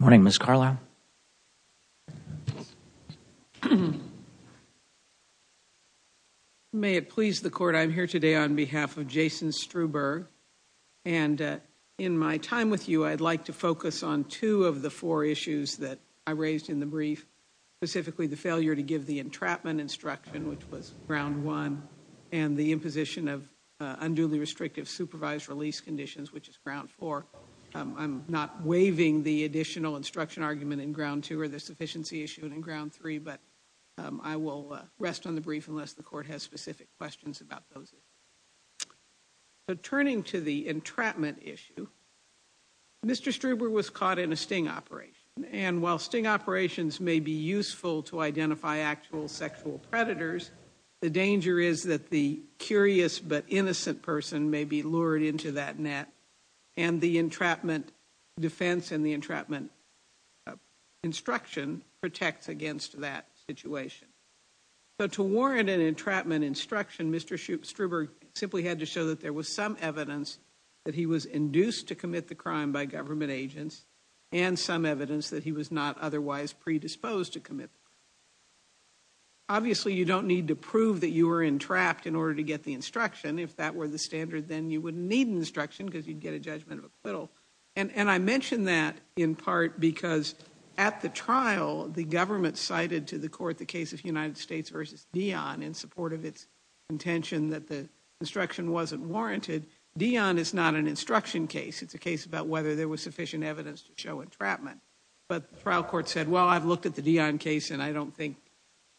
I am here today on behalf of Jason Struberg. In my time with you, I would like to focus on two of the four issues that I raised in the brief, specifically the failure to give the entrapment instruction, which was ground one, and the imposition of unduly restrictive supervised release conditions, which is ground four. I'm not waiving the additional instruction argument in ground two or the sufficiency issue in ground three, but I will rest on the brief unless the court has specific questions about those issues. Turning to the entrapment issue, Mr. Struberg was caught in a sting operation, and while sting operations may be useful to identify actual sexual predators, the danger is that the curious but innocent person may be lured into that net, and the entrapment defense and the entrapment instruction protects against that situation. So to warrant an entrapment instruction, Mr. Struberg simply had to show that there was some evidence that he was induced to commit the crime by government agents and some evidence that he was not otherwise predisposed to commit the crime. Obviously, you don't need to prove that you were entrapped in order to get the instruction. If that were the standard, then you wouldn't need an instruction because you'd get a judgment of acquittal, and I mention that in part because at the trial, the government cited to the court the case of United States v. Dion in support of its intention that the instruction wasn't warranted. Dion is not an instruction case. It's a case about whether there was sufficient evidence to show entrapment, but the trial court said, well, I've looked at the Dion case, and I don't think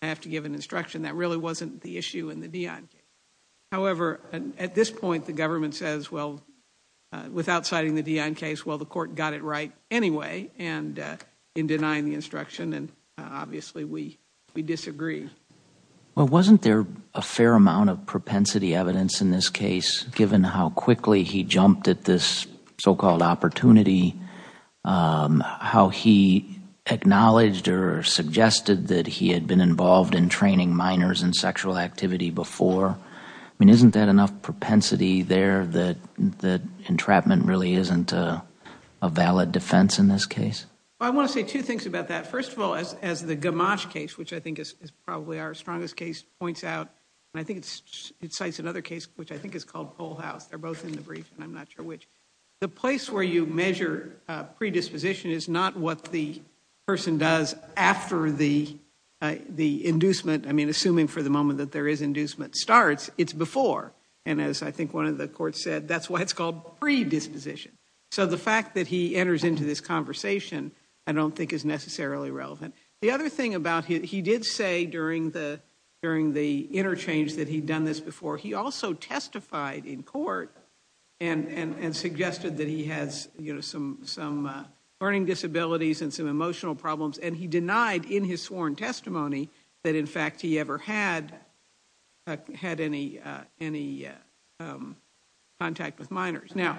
I have to give an instruction. That really wasn't the issue in the Dion case. However, at this point, the government says, well, without citing the Dion case, well, the court got it right anyway in denying the instruction, and obviously, we disagree. Well, wasn't there a fair amount of propensity evidence in this case, given how quickly he that he had been involved in training minors in sexual activity before? I mean, isn't that enough propensity there that entrapment really isn't a valid defense in this case? I want to say two things about that. First of all, as the Gamache case, which I think is probably our strongest case, points out, and I think it cites another case, which I think is called Poll House. They're both in the brief, and I'm not sure which. The place where you measure predisposition is not what the person does after the inducement. I mean, assuming for the moment that there is inducement starts, it's before. And as I think one of the courts said, that's why it's called predisposition. So the fact that he enters into this conversation, I don't think is necessarily relevant. The other thing about it, he did say during the interchange that he'd done this before. He also testified in court and suggested that he has some learning disabilities and some emotional problems, and he denied in his sworn testimony that, in fact, he ever had any contact with minors. Now,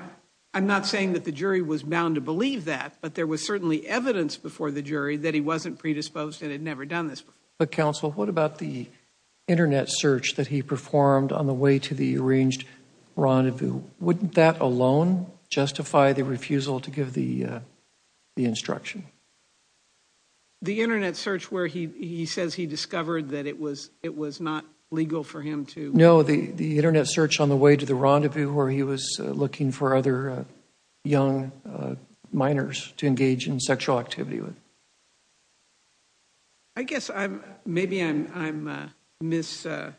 I'm not saying that the jury was bound to believe that, but there was certainly evidence before the jury that he wasn't predisposed and had never done this before. But, counsel, what about the Internet search that he performed on the way to the arranged rendezvous? Wouldn't that alone justify the refusal to give the instruction? The Internet search where he says he discovered that it was not legal for him to... No, the Internet search on the way to the rendezvous where he was looking for other young minors to engage in sexual activity with. I guess maybe I'm misremembering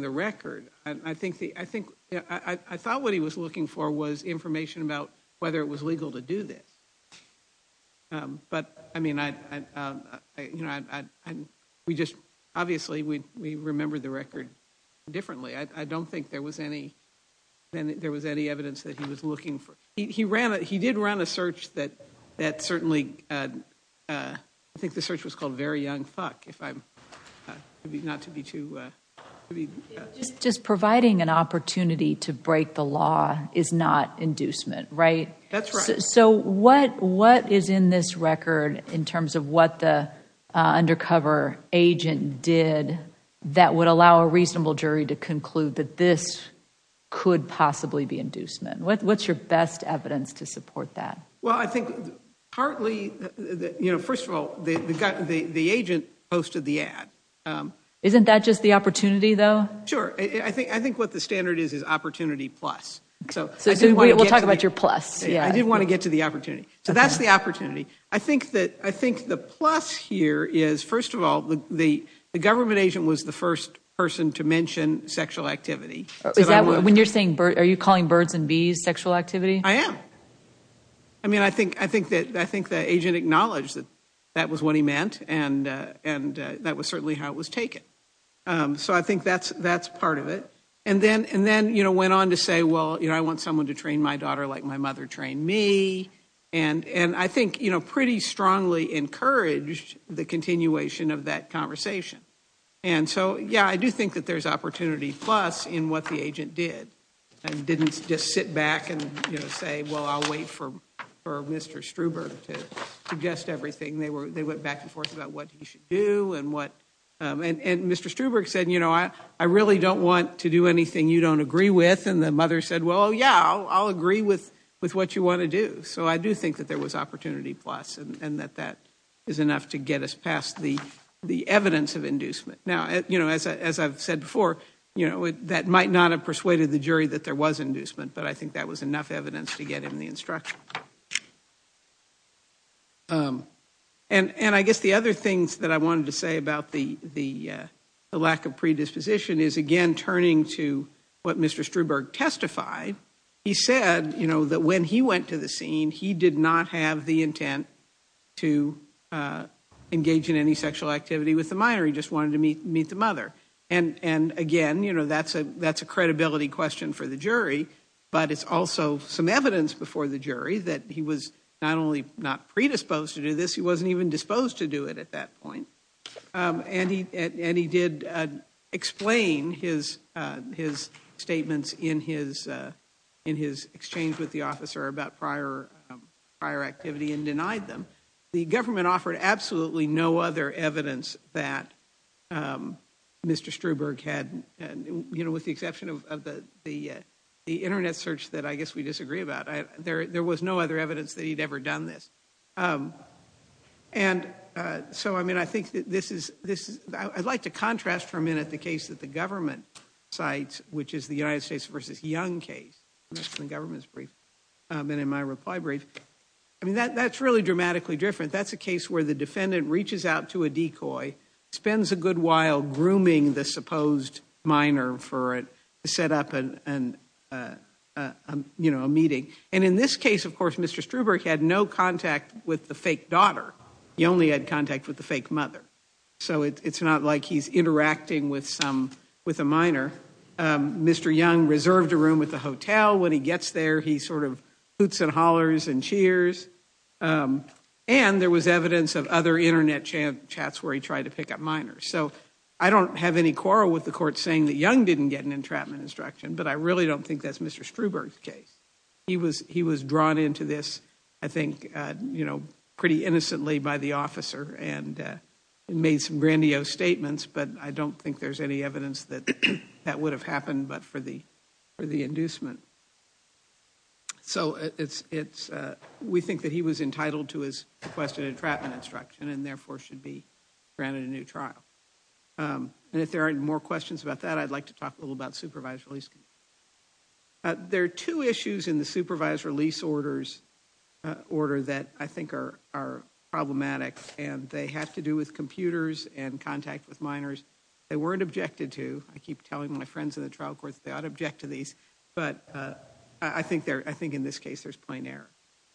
the record. I thought what he was looking for was information about whether it was legal to do this. But, I mean, obviously, we remember the record differently. I don't think there was any evidence that he was looking for. He did run a search that certainly... I think the search was called Very Young Fuck. Just providing an opportunity to break the law is not inducement, right? That's right. So what is in this record in terms of what the undercover agent did that would allow a reasonable jury to conclude that this could possibly be inducement? What's your best evidence to support that? Well, I think partly, you know, first of all, the agent posted the ad. Isn't that just the opportunity, though? Sure. I think what the standard is is opportunity plus. So we'll talk about your plus. I didn't want to get to the opportunity. So that's the opportunity. I think the plus here is, first of all, the government agent was the first person to mention sexual activity. When you're saying... Are you calling birds and bees sexual activity? I am. I mean, I think the agent acknowledged that that was what he meant and that was certainly how it was taken. So I think that's part of it. And then went on to say, well, I want someone to train my daughter like my mother trained me. And I think pretty strongly encouraged the continuation of that conversation. And so, yeah, I do think that there's opportunity plus in what the agent did and didn't just sit back and say, well, I'll wait for Mr. Struberg to adjust everything. They went back and forth about what he should do and what... And Mr. Struberg said, you know, I really don't want to do anything you don't agree with. And the mother said, well, yeah, I'll agree with what you want to do. So I do think that there was opportunity plus and that that is enough to get us past the evidence of inducement. Now, you know, as I've said before, you know, that might not have persuaded the jury that there was inducement, but I think that was enough evidence to get him the instruction. And I guess the other things that I wanted to say about the lack of predisposition is again turning to what Mr. Struberg testified. He said, you know, that when he went to the scene, he did not have the intent to engage in any sexual activity with the minor. He just wanted to meet the mother. And again, you know, that's a credibility question for the jury, but it's also some evidence before the jury that he was not only not predisposed to do this, he wasn't even disposed to do it at that point. And he did explain his statements in his exchange with the officer about prior activity and denied them. The government offered absolutely no other evidence that Mr. Struberg had, you know, with the exception of the internet search that I guess we disagree about. There was no other evidence that he'd ever done this. And so, I mean, I think this is, I'd like to contrast for a minute the case that the government cites, which is the United States v. Young case in the government's brief and in my reply brief. I mean, that's really dramatically different. That's a case where the defendant reaches out to a decoy, spends a good while grooming the supposed minor for it, set up a meeting. And in this case, of course, Mr. Struberg had no contact with the fake daughter. He only had contact with the fake mother. So it's not like he's interacting with a minor. Mr. Young reserved a room at the hotel. When he gets there, he sort of other internet chats where he tried to pick up minors. So I don't have any quarrel with the court saying that Young didn't get an entrapment instruction, but I really don't think that's Mr. Struberg's case. He was drawn into this, I think, you know, pretty innocently by the officer and made some grandiose statements, but I don't think there's any evidence that would have happened but for the inducement. So we think that he was entitled to his requested entrapment instruction and therefore should be granted a new trial. And if there are more questions about that, I'd like to talk a little about supervised release. There are two issues in the supervised release order that I think are problematic and they have to do with computers and contact with minors. They weren't objected to. I keep telling my friends in the trial court that they ought to object to these, but I think in this case there's plain error.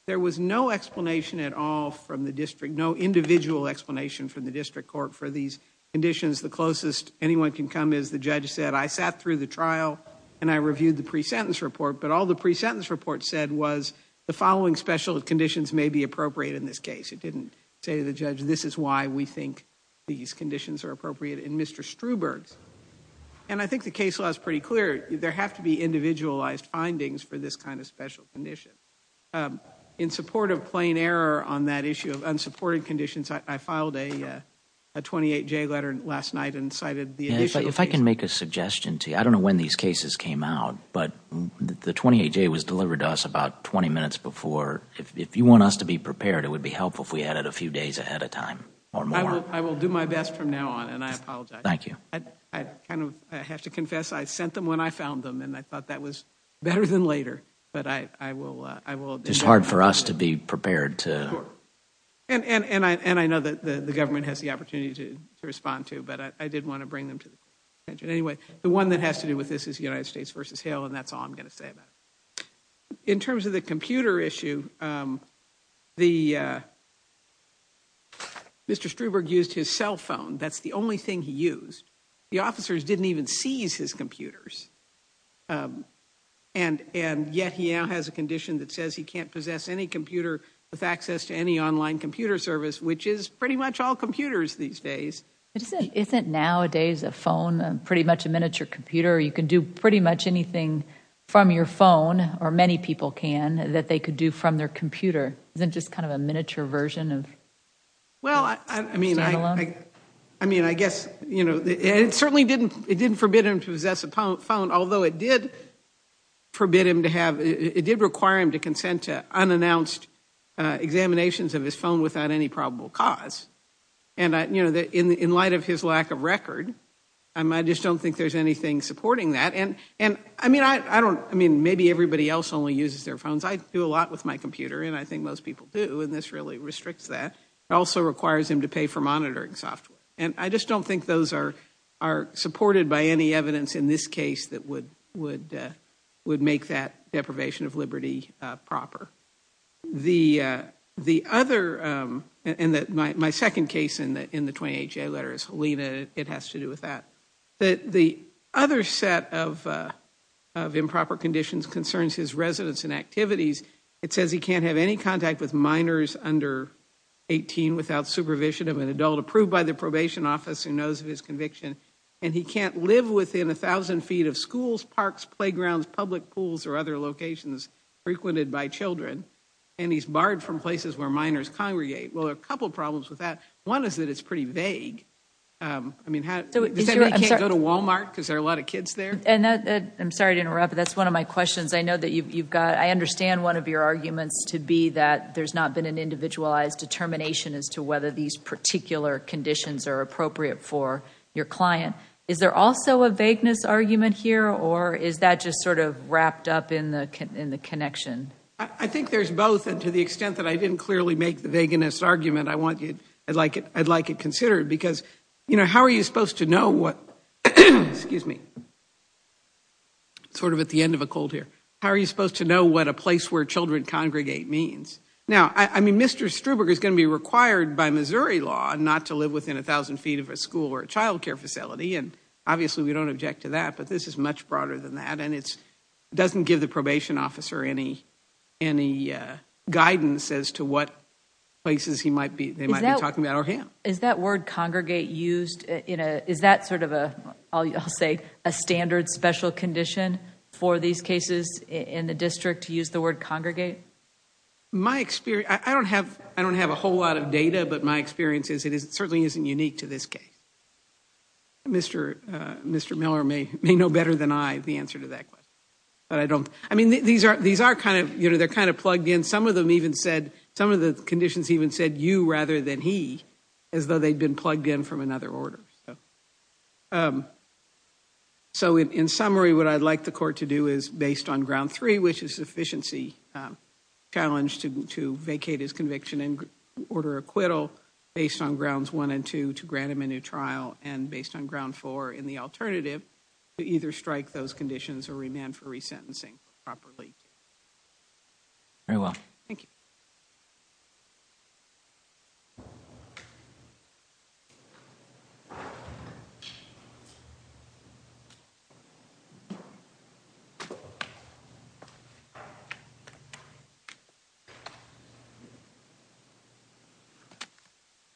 There was no explanation at all from the district, no individual explanation from the district court for these conditions. The closest anyone can come is the judge said, I sat through the trial and I reviewed the pre-sentence report, but all the pre-sentence report said was the following special conditions may be appropriate in this case. It didn't say to the judge, this is why we think these conditions are appropriate in Mr. Struberg's. And I think the case law is pretty clear. There have to be individualized findings for this kind of special condition. In support of plain error on that issue of unsupported conditions, I filed a 28-J letter last night and cited the additional cases. If I can make a suggestion to you, I don't know when these cases came out, but the 28-J was delivered to us about 20 minutes before. If you want us to be prepared, it would be helpful if we had it a few days ahead of time or more. I will do my best from now on and I apologize. Thank you. I kind of have to confess, I sent them when I found them and I thought that was better than later. It's hard for us to be prepared. And I know that the government has the opportunity to respond to, but I did want to bring them to the attention. Anyway, the one that has to do with this is the United States v. Hale and that's all I'm going to say about it. In terms of the computer issue, Mr. Struberg used his cell phone. That's the only thing he used. The officers didn't even seize his computers. And yet he now has a condition that says he can't possess any computer with access to any online computer service, which is pretty much all computers these days. Isn't nowadays a phone pretty much a miniature computer? You can do pretty much anything from your phone, or many people can, that they could do from their computer. Isn't it just kind of a miniature version of a stand-alone? Well, I mean, I guess, you know, it certainly didn't forbid him to possess a phone, although it did forbid him to have, it did require him to consent to unannounced examinations of his phone without any probable cause. And, you know, in light of his lack of record, I just don't think there's anything supporting that. And, I mean, I don't, I mean, maybe everybody else only uses their phones. I do a lot with my computer and I think most people do, and this really restricts that. It also requires him to pay for monitoring software. And I just don't think those are supported by any evidence in this case that would make that deprivation of liberty proper. The other, and my second case in the 28-J letter is Helena. It has to do with that. The other set of improper conditions concerns his residence and activities. It says he can't have any contact with minors under 18 without supervision of an adult approved by the probation office who knows of his conviction. And he can't live within 1,000 feet of schools, parks, playgrounds, public pools, or other locations frequented by children. And he's barred from places where minors congregate. Well, there are a couple problems with that. One is that it's pretty vague. I mean, does that mean he can't go to Walmart because there are a lot of kids there? I'm sorry to interrupt, but that's one of my questions. I know that you've got, I understand one of your arguments to be that there's not been an individualized determination as to whether these particular conditions are appropriate for your client. Is there also a vagueness argument here, or is that just sort of wrapped up in the connection? I think there's both. And to the extent that I didn't clearly make the vagueness argument, I'd like it considered. Because, you know, how are you supposed to know what, excuse me, where children congregate means? Now, I mean, Mr. Struberg is going to be required by Missouri law not to live within 1,000 feet of a school or a child care facility. And obviously we don't object to that. But this is much broader than that. And it doesn't give the probation officer any guidance as to what places he might be, they might be talking about, or him. Is that word congregate used in a, is that sort of a, I'll say, a standard special condition for these cases in the district to use the word congregate? My experience, I don't have a whole lot of data, but my experience is it certainly isn't unique to this case. Mr. Miller may know better than I the answer to that question. But I don't, I mean, these are kind of, you know, they're kind of plugged in. Some of them even said, some of the conditions even said you rather than he, as though they'd been plugged in from another order. So in summary, what I'd like the court to do is based on ground three, which is sufficiency challenge to, to vacate his conviction and order acquittal based on grounds one and two, to grant him a new trial and based on ground four in the alternative to either strike those conditions or remand for resentencing properly. Very well. Thank you.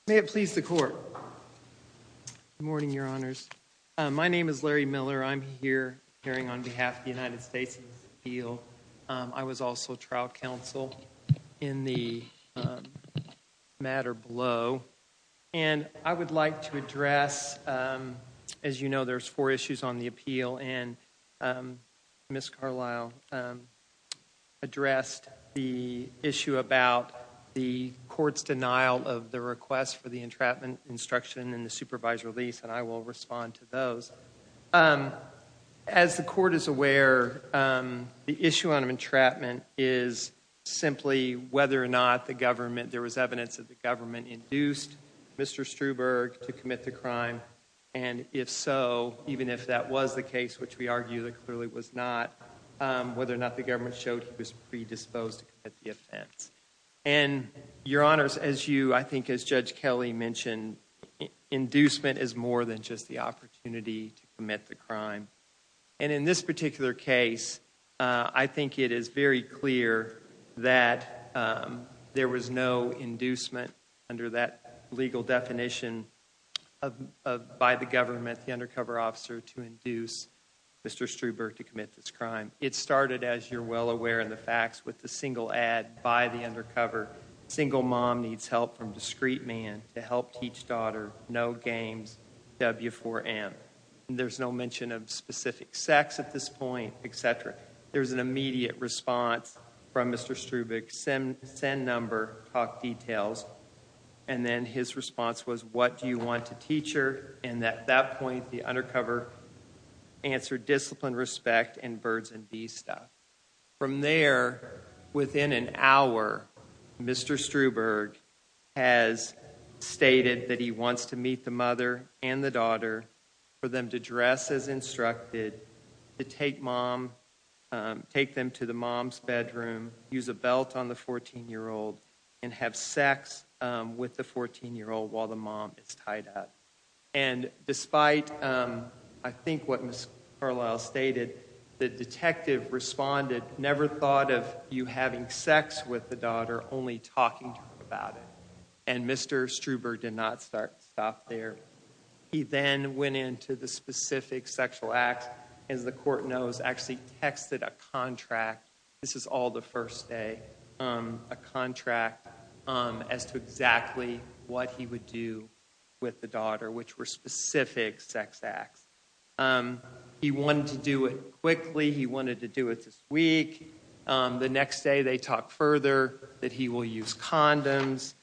May it please the court. Good morning, your honors. My name is Larry Miller. I'm here on behalf of the United States Appeal. I was also trial counsel in the matter below. And I would like to address, as you know, there's four issues on the appeal and Ms. Carlisle addressed the issue about the court's denial of the request for the entrapment instruction and the supervised release. And I will respond to those. As the court is aware, the issue on entrapment is simply whether or not the government, there was evidence that the government induced Mr. Struberg to commit the crime. And if so, even if that was the case, which we argue that clearly was not, whether or not the government showed he was predisposed to commit the offense. And your honors, as you, I think as Judge Kelly mentioned, inducement is more than just the opportunity to commit the crime. And in this particular case, I think it is very clear that there was no inducement under that legal definition by the government, the undercover officer, to induce Mr. Struberg to commit this crime. It started, as you're well aware in the facts with the single ad by the undercover, single mom needs help from discreet man to help teach daughter no games, W4M. There's no mention of specific sex at this point, etc. There's an immediate response from Mr. Struberg, send number, talk details. And then his response was, what do you want to teach her? And at that point, the undercover answered disciplined respect and birds and bees stuff. From there, within an hour, Mr. Struberg has stated that he wants to meet the mother and the daughter, for them to dress as instructed, to take mom, take them to the mom's bedroom, use a belt on the 14-year-old, and have sex with the 14-year-old while the mom is tied up. And despite, I think what Ms. Carlisle stated, the detective responded, never thought of you having sex with the daughter, only talking to her about it. And Mr. Struberg did not stop there. He then went into the specific sexual acts, as the court knows, actually texted a contract. This is all the contract as to exactly what he would do with the daughter, which were specific sex acts. He wanted to do it quickly. He wanted to do it this week. The next day, they talk further that he will use condoms.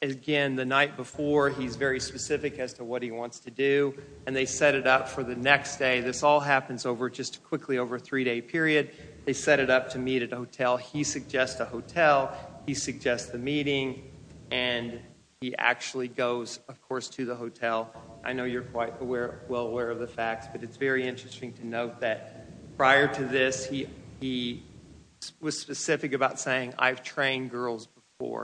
Again, the night before, he's very specific as to what he wants to do, and they set it up for the next day. This all happens just quickly over a three-day period. They set it up to meet at a hotel. He suggests a hotel. He suggests the meeting, and he actually goes, of course, to the hotel. I know you're quite well aware of the facts, but it's very interesting to note that prior to this, he was specific about saying, I've trained girls before.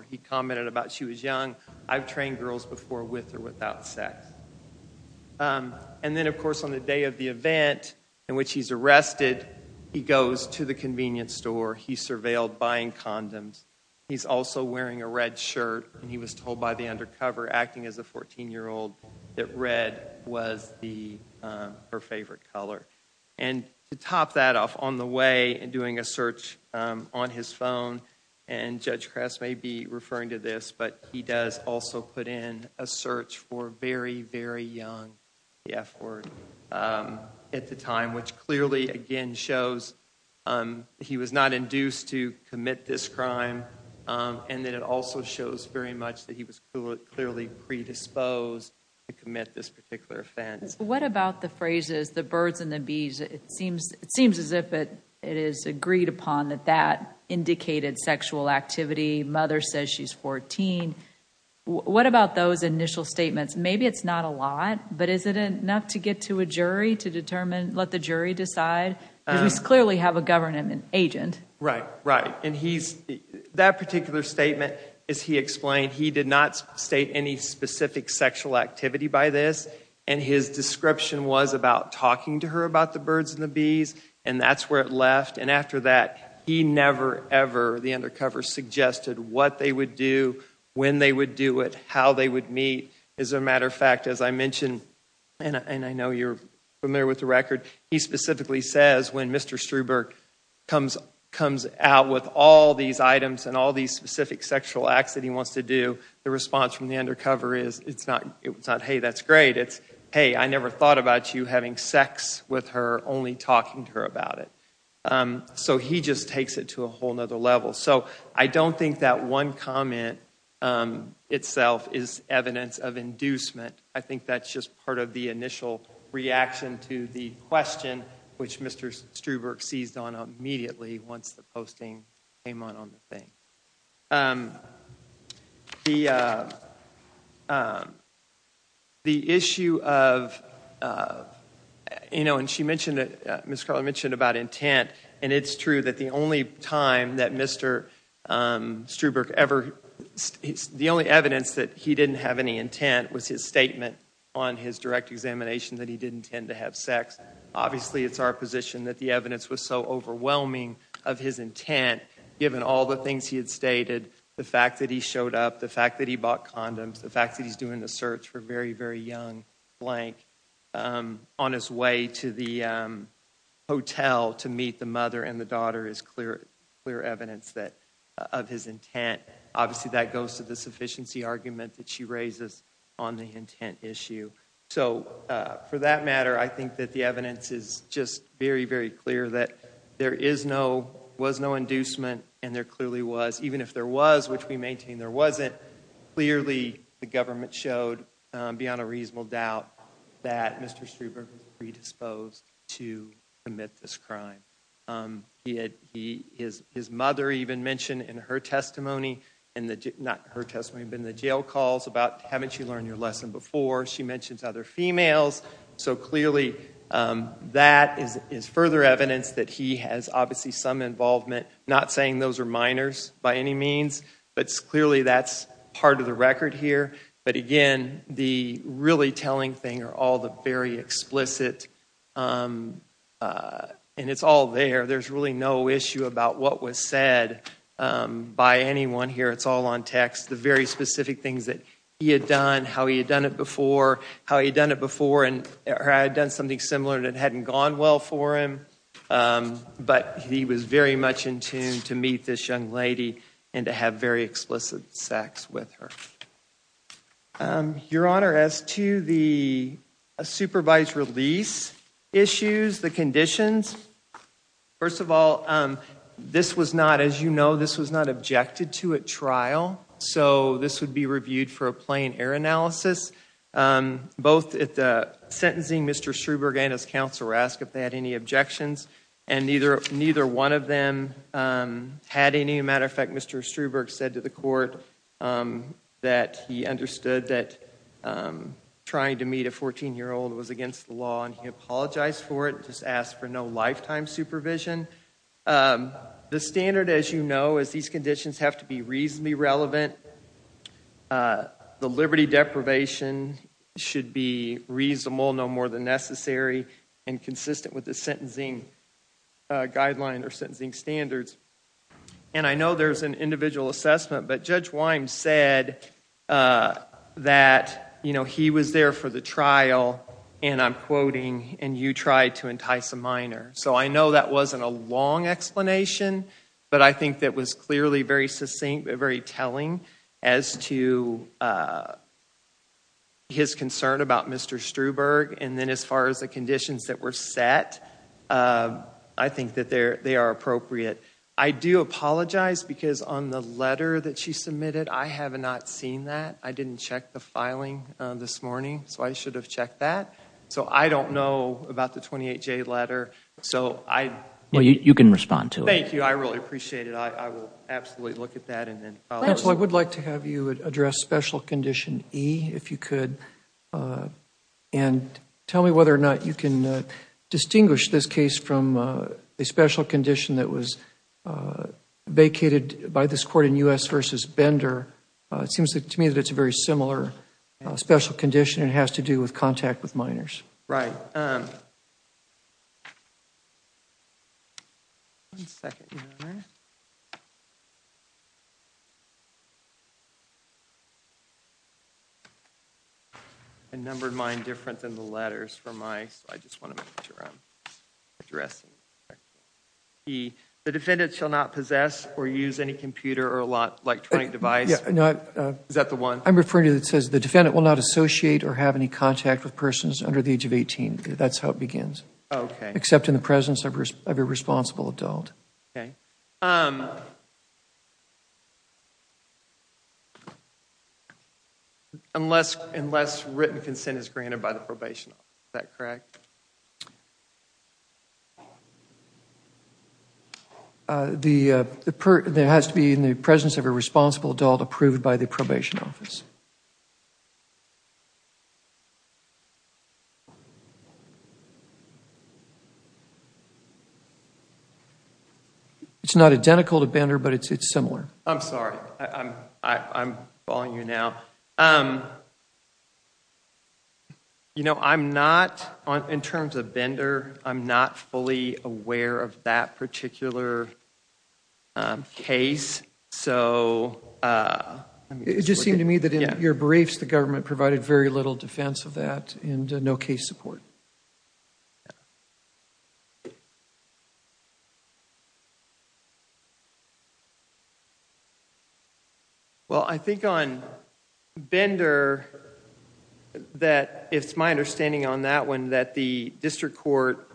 He commented about she was young. I've trained girls before with or without sex. And then, of course, on the day of the event in which he's arrested, he goes to the convenience store. He's surveilled buying condoms. He's also wearing a red shirt, and he was told by the undercover, acting as a 14-year-old, that red was her favorite color. And to top that off, on the way, and doing a search on his phone, and Judge Kress may be referring to this, but he does also put in a search for very, very young, the F word, at the time, which clearly, again, shows he was not induced to commit this crime, and that it also shows very much that he was clearly predisposed to commit this particular offense. What about the phrases, the birds and the bees? It seems as if it is agreed upon that indicated sexual activity. Mother says she's 14. What about those initial statements? Maybe it's not a lot, but is it enough to get to a jury to determine, let the jury decide? Because we clearly have a government agent. Right, right. That particular statement, as he explained, he did not state any specific sexual activity by this, and his description was about talking to her about the birds and the bees, and that's where it left. And after that, he never, ever, the undercover suggested what they would do, when they would do it, how they would meet. As a matter of fact, as I mentioned, and I know you're familiar with the record, he specifically says when Mr. Struber comes out with all these items and all these specific sexual acts that he wants to do, the response from the undercover is, it's not, hey, that's great. It's, hey, I never thought about you having sex with her, only talking to her about it. So he just takes it to a whole other level. So I don't think that one comment itself is evidence of inducement. I think that's just part of the initial reaction to the question, which Mr. Struber seized on immediately, once the posting came out on the thing. The issue of, you know, and she mentioned, Ms. Karloff mentioned about intent, and it's true that the only time that Mr. Struber ever, the only evidence that he didn't have any intent was his statement on his direct examination that he didn't intend to have sex. Obviously, it's our position that the evidence was so overwhelming of his intent, given all the things that he had stated, the fact that he showed up, the fact that he bought condoms, the fact that he's doing the search for very, very young, blank, on his way to the hotel to meet the mother and the daughter is clear evidence of his intent. Obviously, that goes to the sufficiency argument that she raises on the intent issue. So for that matter, I think that the evidence is just very, very clear that there is no, was no inducement and there clearly was. Even if there was, which we maintain there wasn't, clearly the government showed beyond a reasonable doubt that Mr. Struber was predisposed to commit this crime. His mother even mentioned in her testimony, not her testimony, but in the jail calls about, haven't you learned your lesson before? She mentions other females. So clearly that is further evidence that he has obviously some involvement, not saying those are minors by any means, but clearly that's part of the record here. But again, the really telling thing are all the very explicit, and it's all there. There's really no issue about what was said by anyone here. It's all on text. The very specific things that he had done, how he had done it before, how he had done it before, and had done something similar that hadn't gone well for him. But he was very much in tune to meet this young lady and to have very explicit sex with her. Your Honor, as to the supervised release issues, the conditions, first of all, this was not, as you know, this was not objected to at trial. So this would be reviewed for a plain error analysis. Both at the sentencing, Mr. Struberg and his counsel were asked if they had any objections, and neither one of them had any. As a matter of fact, Mr. Struberg said to the court that he understood that trying to meet a 14-year-old was against the law, and he apologized for it, just asked for no lifetime supervision. The standard, as you know, is these conditions have to be reasonably relevant. The liberty deprivation should be reasonable, no more than necessary, and consistent with the sentencing guideline or sentencing standards. And I know there's an individual assessment, but Judge Wyme said that he was there for the trial, and I'm quoting, and you tried to entice a minor. So I know that wasn't a long explanation, but I think that was clearly very succinct, very telling as to his concern about Mr. Struberg. And then as far as the conditions that were set, I think that they are appropriate. I do apologize because on the letter that she submitted, I have not seen that. I didn't check the filing this morning, so I should have checked that. So I don't know about the 28-J letter, so I... Well, you can respond to it. Thank you. I really appreciate it. I will absolutely look at that and then follow up. Judge, I would like to have you address Special Condition E, if you could, and tell me whether or not you can distinguish this case from a special condition that was vacated by this very similar special condition, and it has to do with contact with minors. Right. One second, Your Honor. I numbered mine different than the letters for my... I just want to make sure I'm addressing... E. The defendant shall not possess or use any computer or electronic device... Is that the one? I'm referring to the one that says the defendant will not associate or have any contact with persons under the age of 18. That's how it begins, except in the presence of a responsible adult. Unless written consent is granted by the probation office, is that correct? There has to be, in the presence of a responsible adult, approved by the probation office. It's not identical to Banner, but it's similar. I'm sorry. I'm following you now. You know, I'm not... in terms of Banner, I'm not fully aware of that particular case, so... It just seemed to me that in your briefs, the government provided very little defense of that and no case support. I think on Bender, it's my understanding on that one that the district court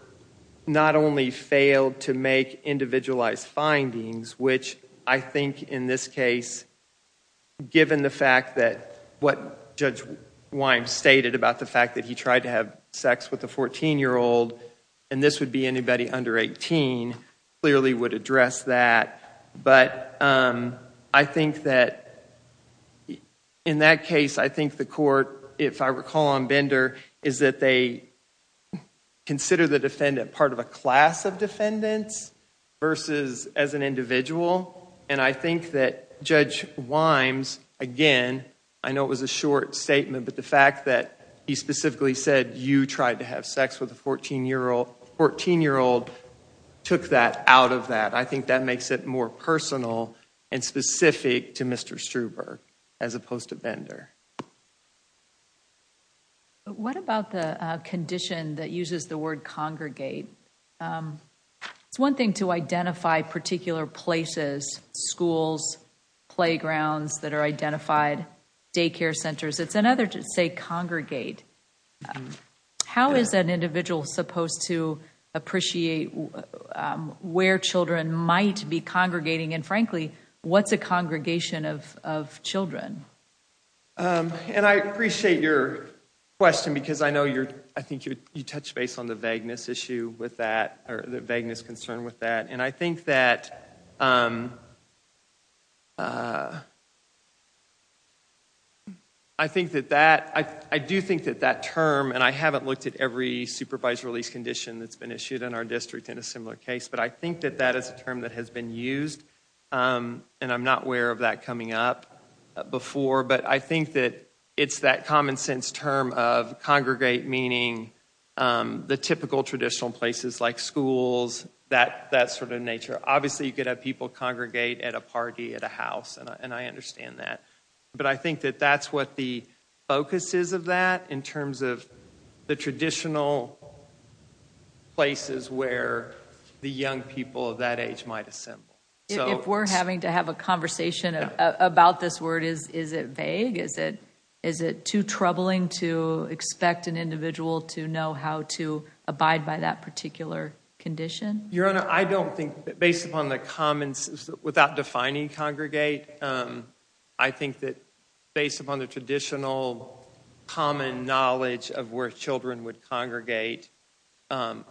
not only failed to make individualized findings, which I think in this case, given the fact that what Judge Wimes stated about the fact that he tried to have sex with a fourteen-year-old and this would be anybody under eighteen, clearly would address that. I think that in that case, I think the court, if I recall on Bender, is that they consider the defendant part of a class of defendants versus as an individual. I think that Judge Wimes, again, I know it was a short statement, but the fact that he specifically said you tried to have sex with a fourteen-year-old took that out of that. I think that makes it more personal and specific to Mr. Struber as opposed to Bender. What about the condition that uses the word congregate? It's one thing to identify particular places, schools, playgrounds that are identified, daycare centers. It's another to say congregate. How is an individual supposed to appreciate where children might be congregating and frankly, what's a congregation of children? I appreciate your question because I think you touched base on the vagueness issue with that or the vagueness concern with that. I do think that that term, and I haven't looked at every supervised release condition that's been issued in our district in a similar case, but I think that that is a term that has been used. I'm not aware of that coming up before, but I think that it's that common sense term of congregate meaning the typical traditional places like schools, that sort of nature. Obviously, you could have people congregate at a party, at a house, and I understand that, but I think that that's what the focus is of that in terms of the traditional places where the young people of that age might assemble. If we're having to have a conversation about this word, is it vague? Is it too troubling to expect an individual to know how to abide by that particular condition? Your Honor, I don't think that based upon the common sense, without defining congregate, I think that based upon the traditional common knowledge of where children would congregate, I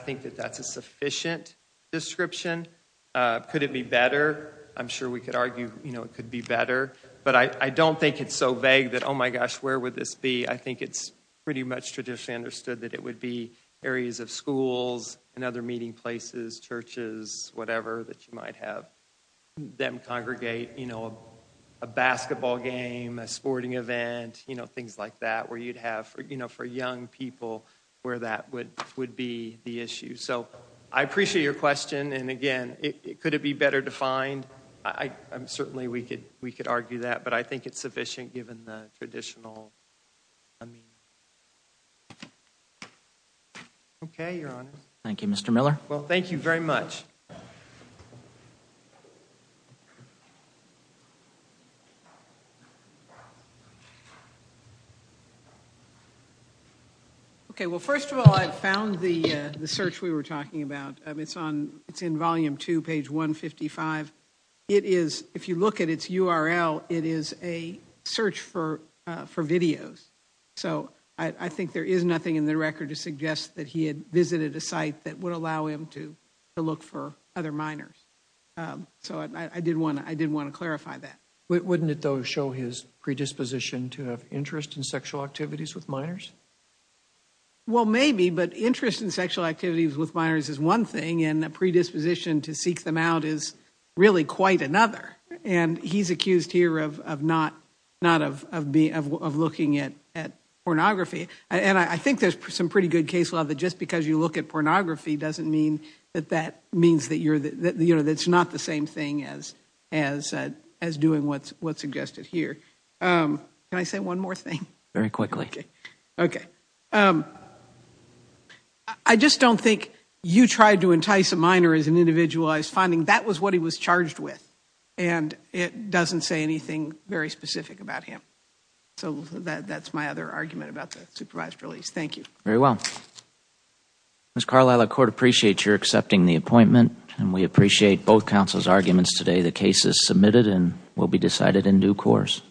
think that that's a sufficient description. Could it be better? I'm sure we could argue it could be better, but I don't think it's so vague that, oh my gosh, where would this be? I think it's pretty much traditionally understood that it would be areas of schools and other meeting places, churches, whatever that you might have them congregate, a basketball game, a sporting event, things like that where you'd have for young people where that would be the issue. I appreciate your question, and again, could it be better defined? I'm sure certainly we could argue that, but I think it's sufficient given the traditional meaning. Okay, Your Honor. Thank you, Mr. Miller. Well, thank you very much. Okay, well, first of all, I found the search we were talking about. It's in volume two, page 155. It is, if you look at its URL, it is a search for videos, so I think there is nothing in the record to suggest that he had visited a site that would allow him to look for other minors, so I did want to clarify that. Wouldn't it, though, show his predisposition to have interest in sexual activities with minors? Well, maybe, but interest in sexual activities with minors is one thing, and a predisposition to seek them out is really quite another, and he's accused here of looking at pornography, and I think there's some pretty good case law that just because you look at pornography doesn't mean that that means that it's not the same thing as doing what's suggested here. Can I say one more thing? Very quickly. Okay. I just don't think you tried to entice a minor as an individualized finding. That was what he was charged with, and it doesn't say anything very specific about him, so that's my other argument about the supervised release. Thank you. Very well. Ms. Carlisle, the court appreciates you're accepting the appointment, and we appreciate both counsel's arguments today. The case is submitted and will be decided in due course.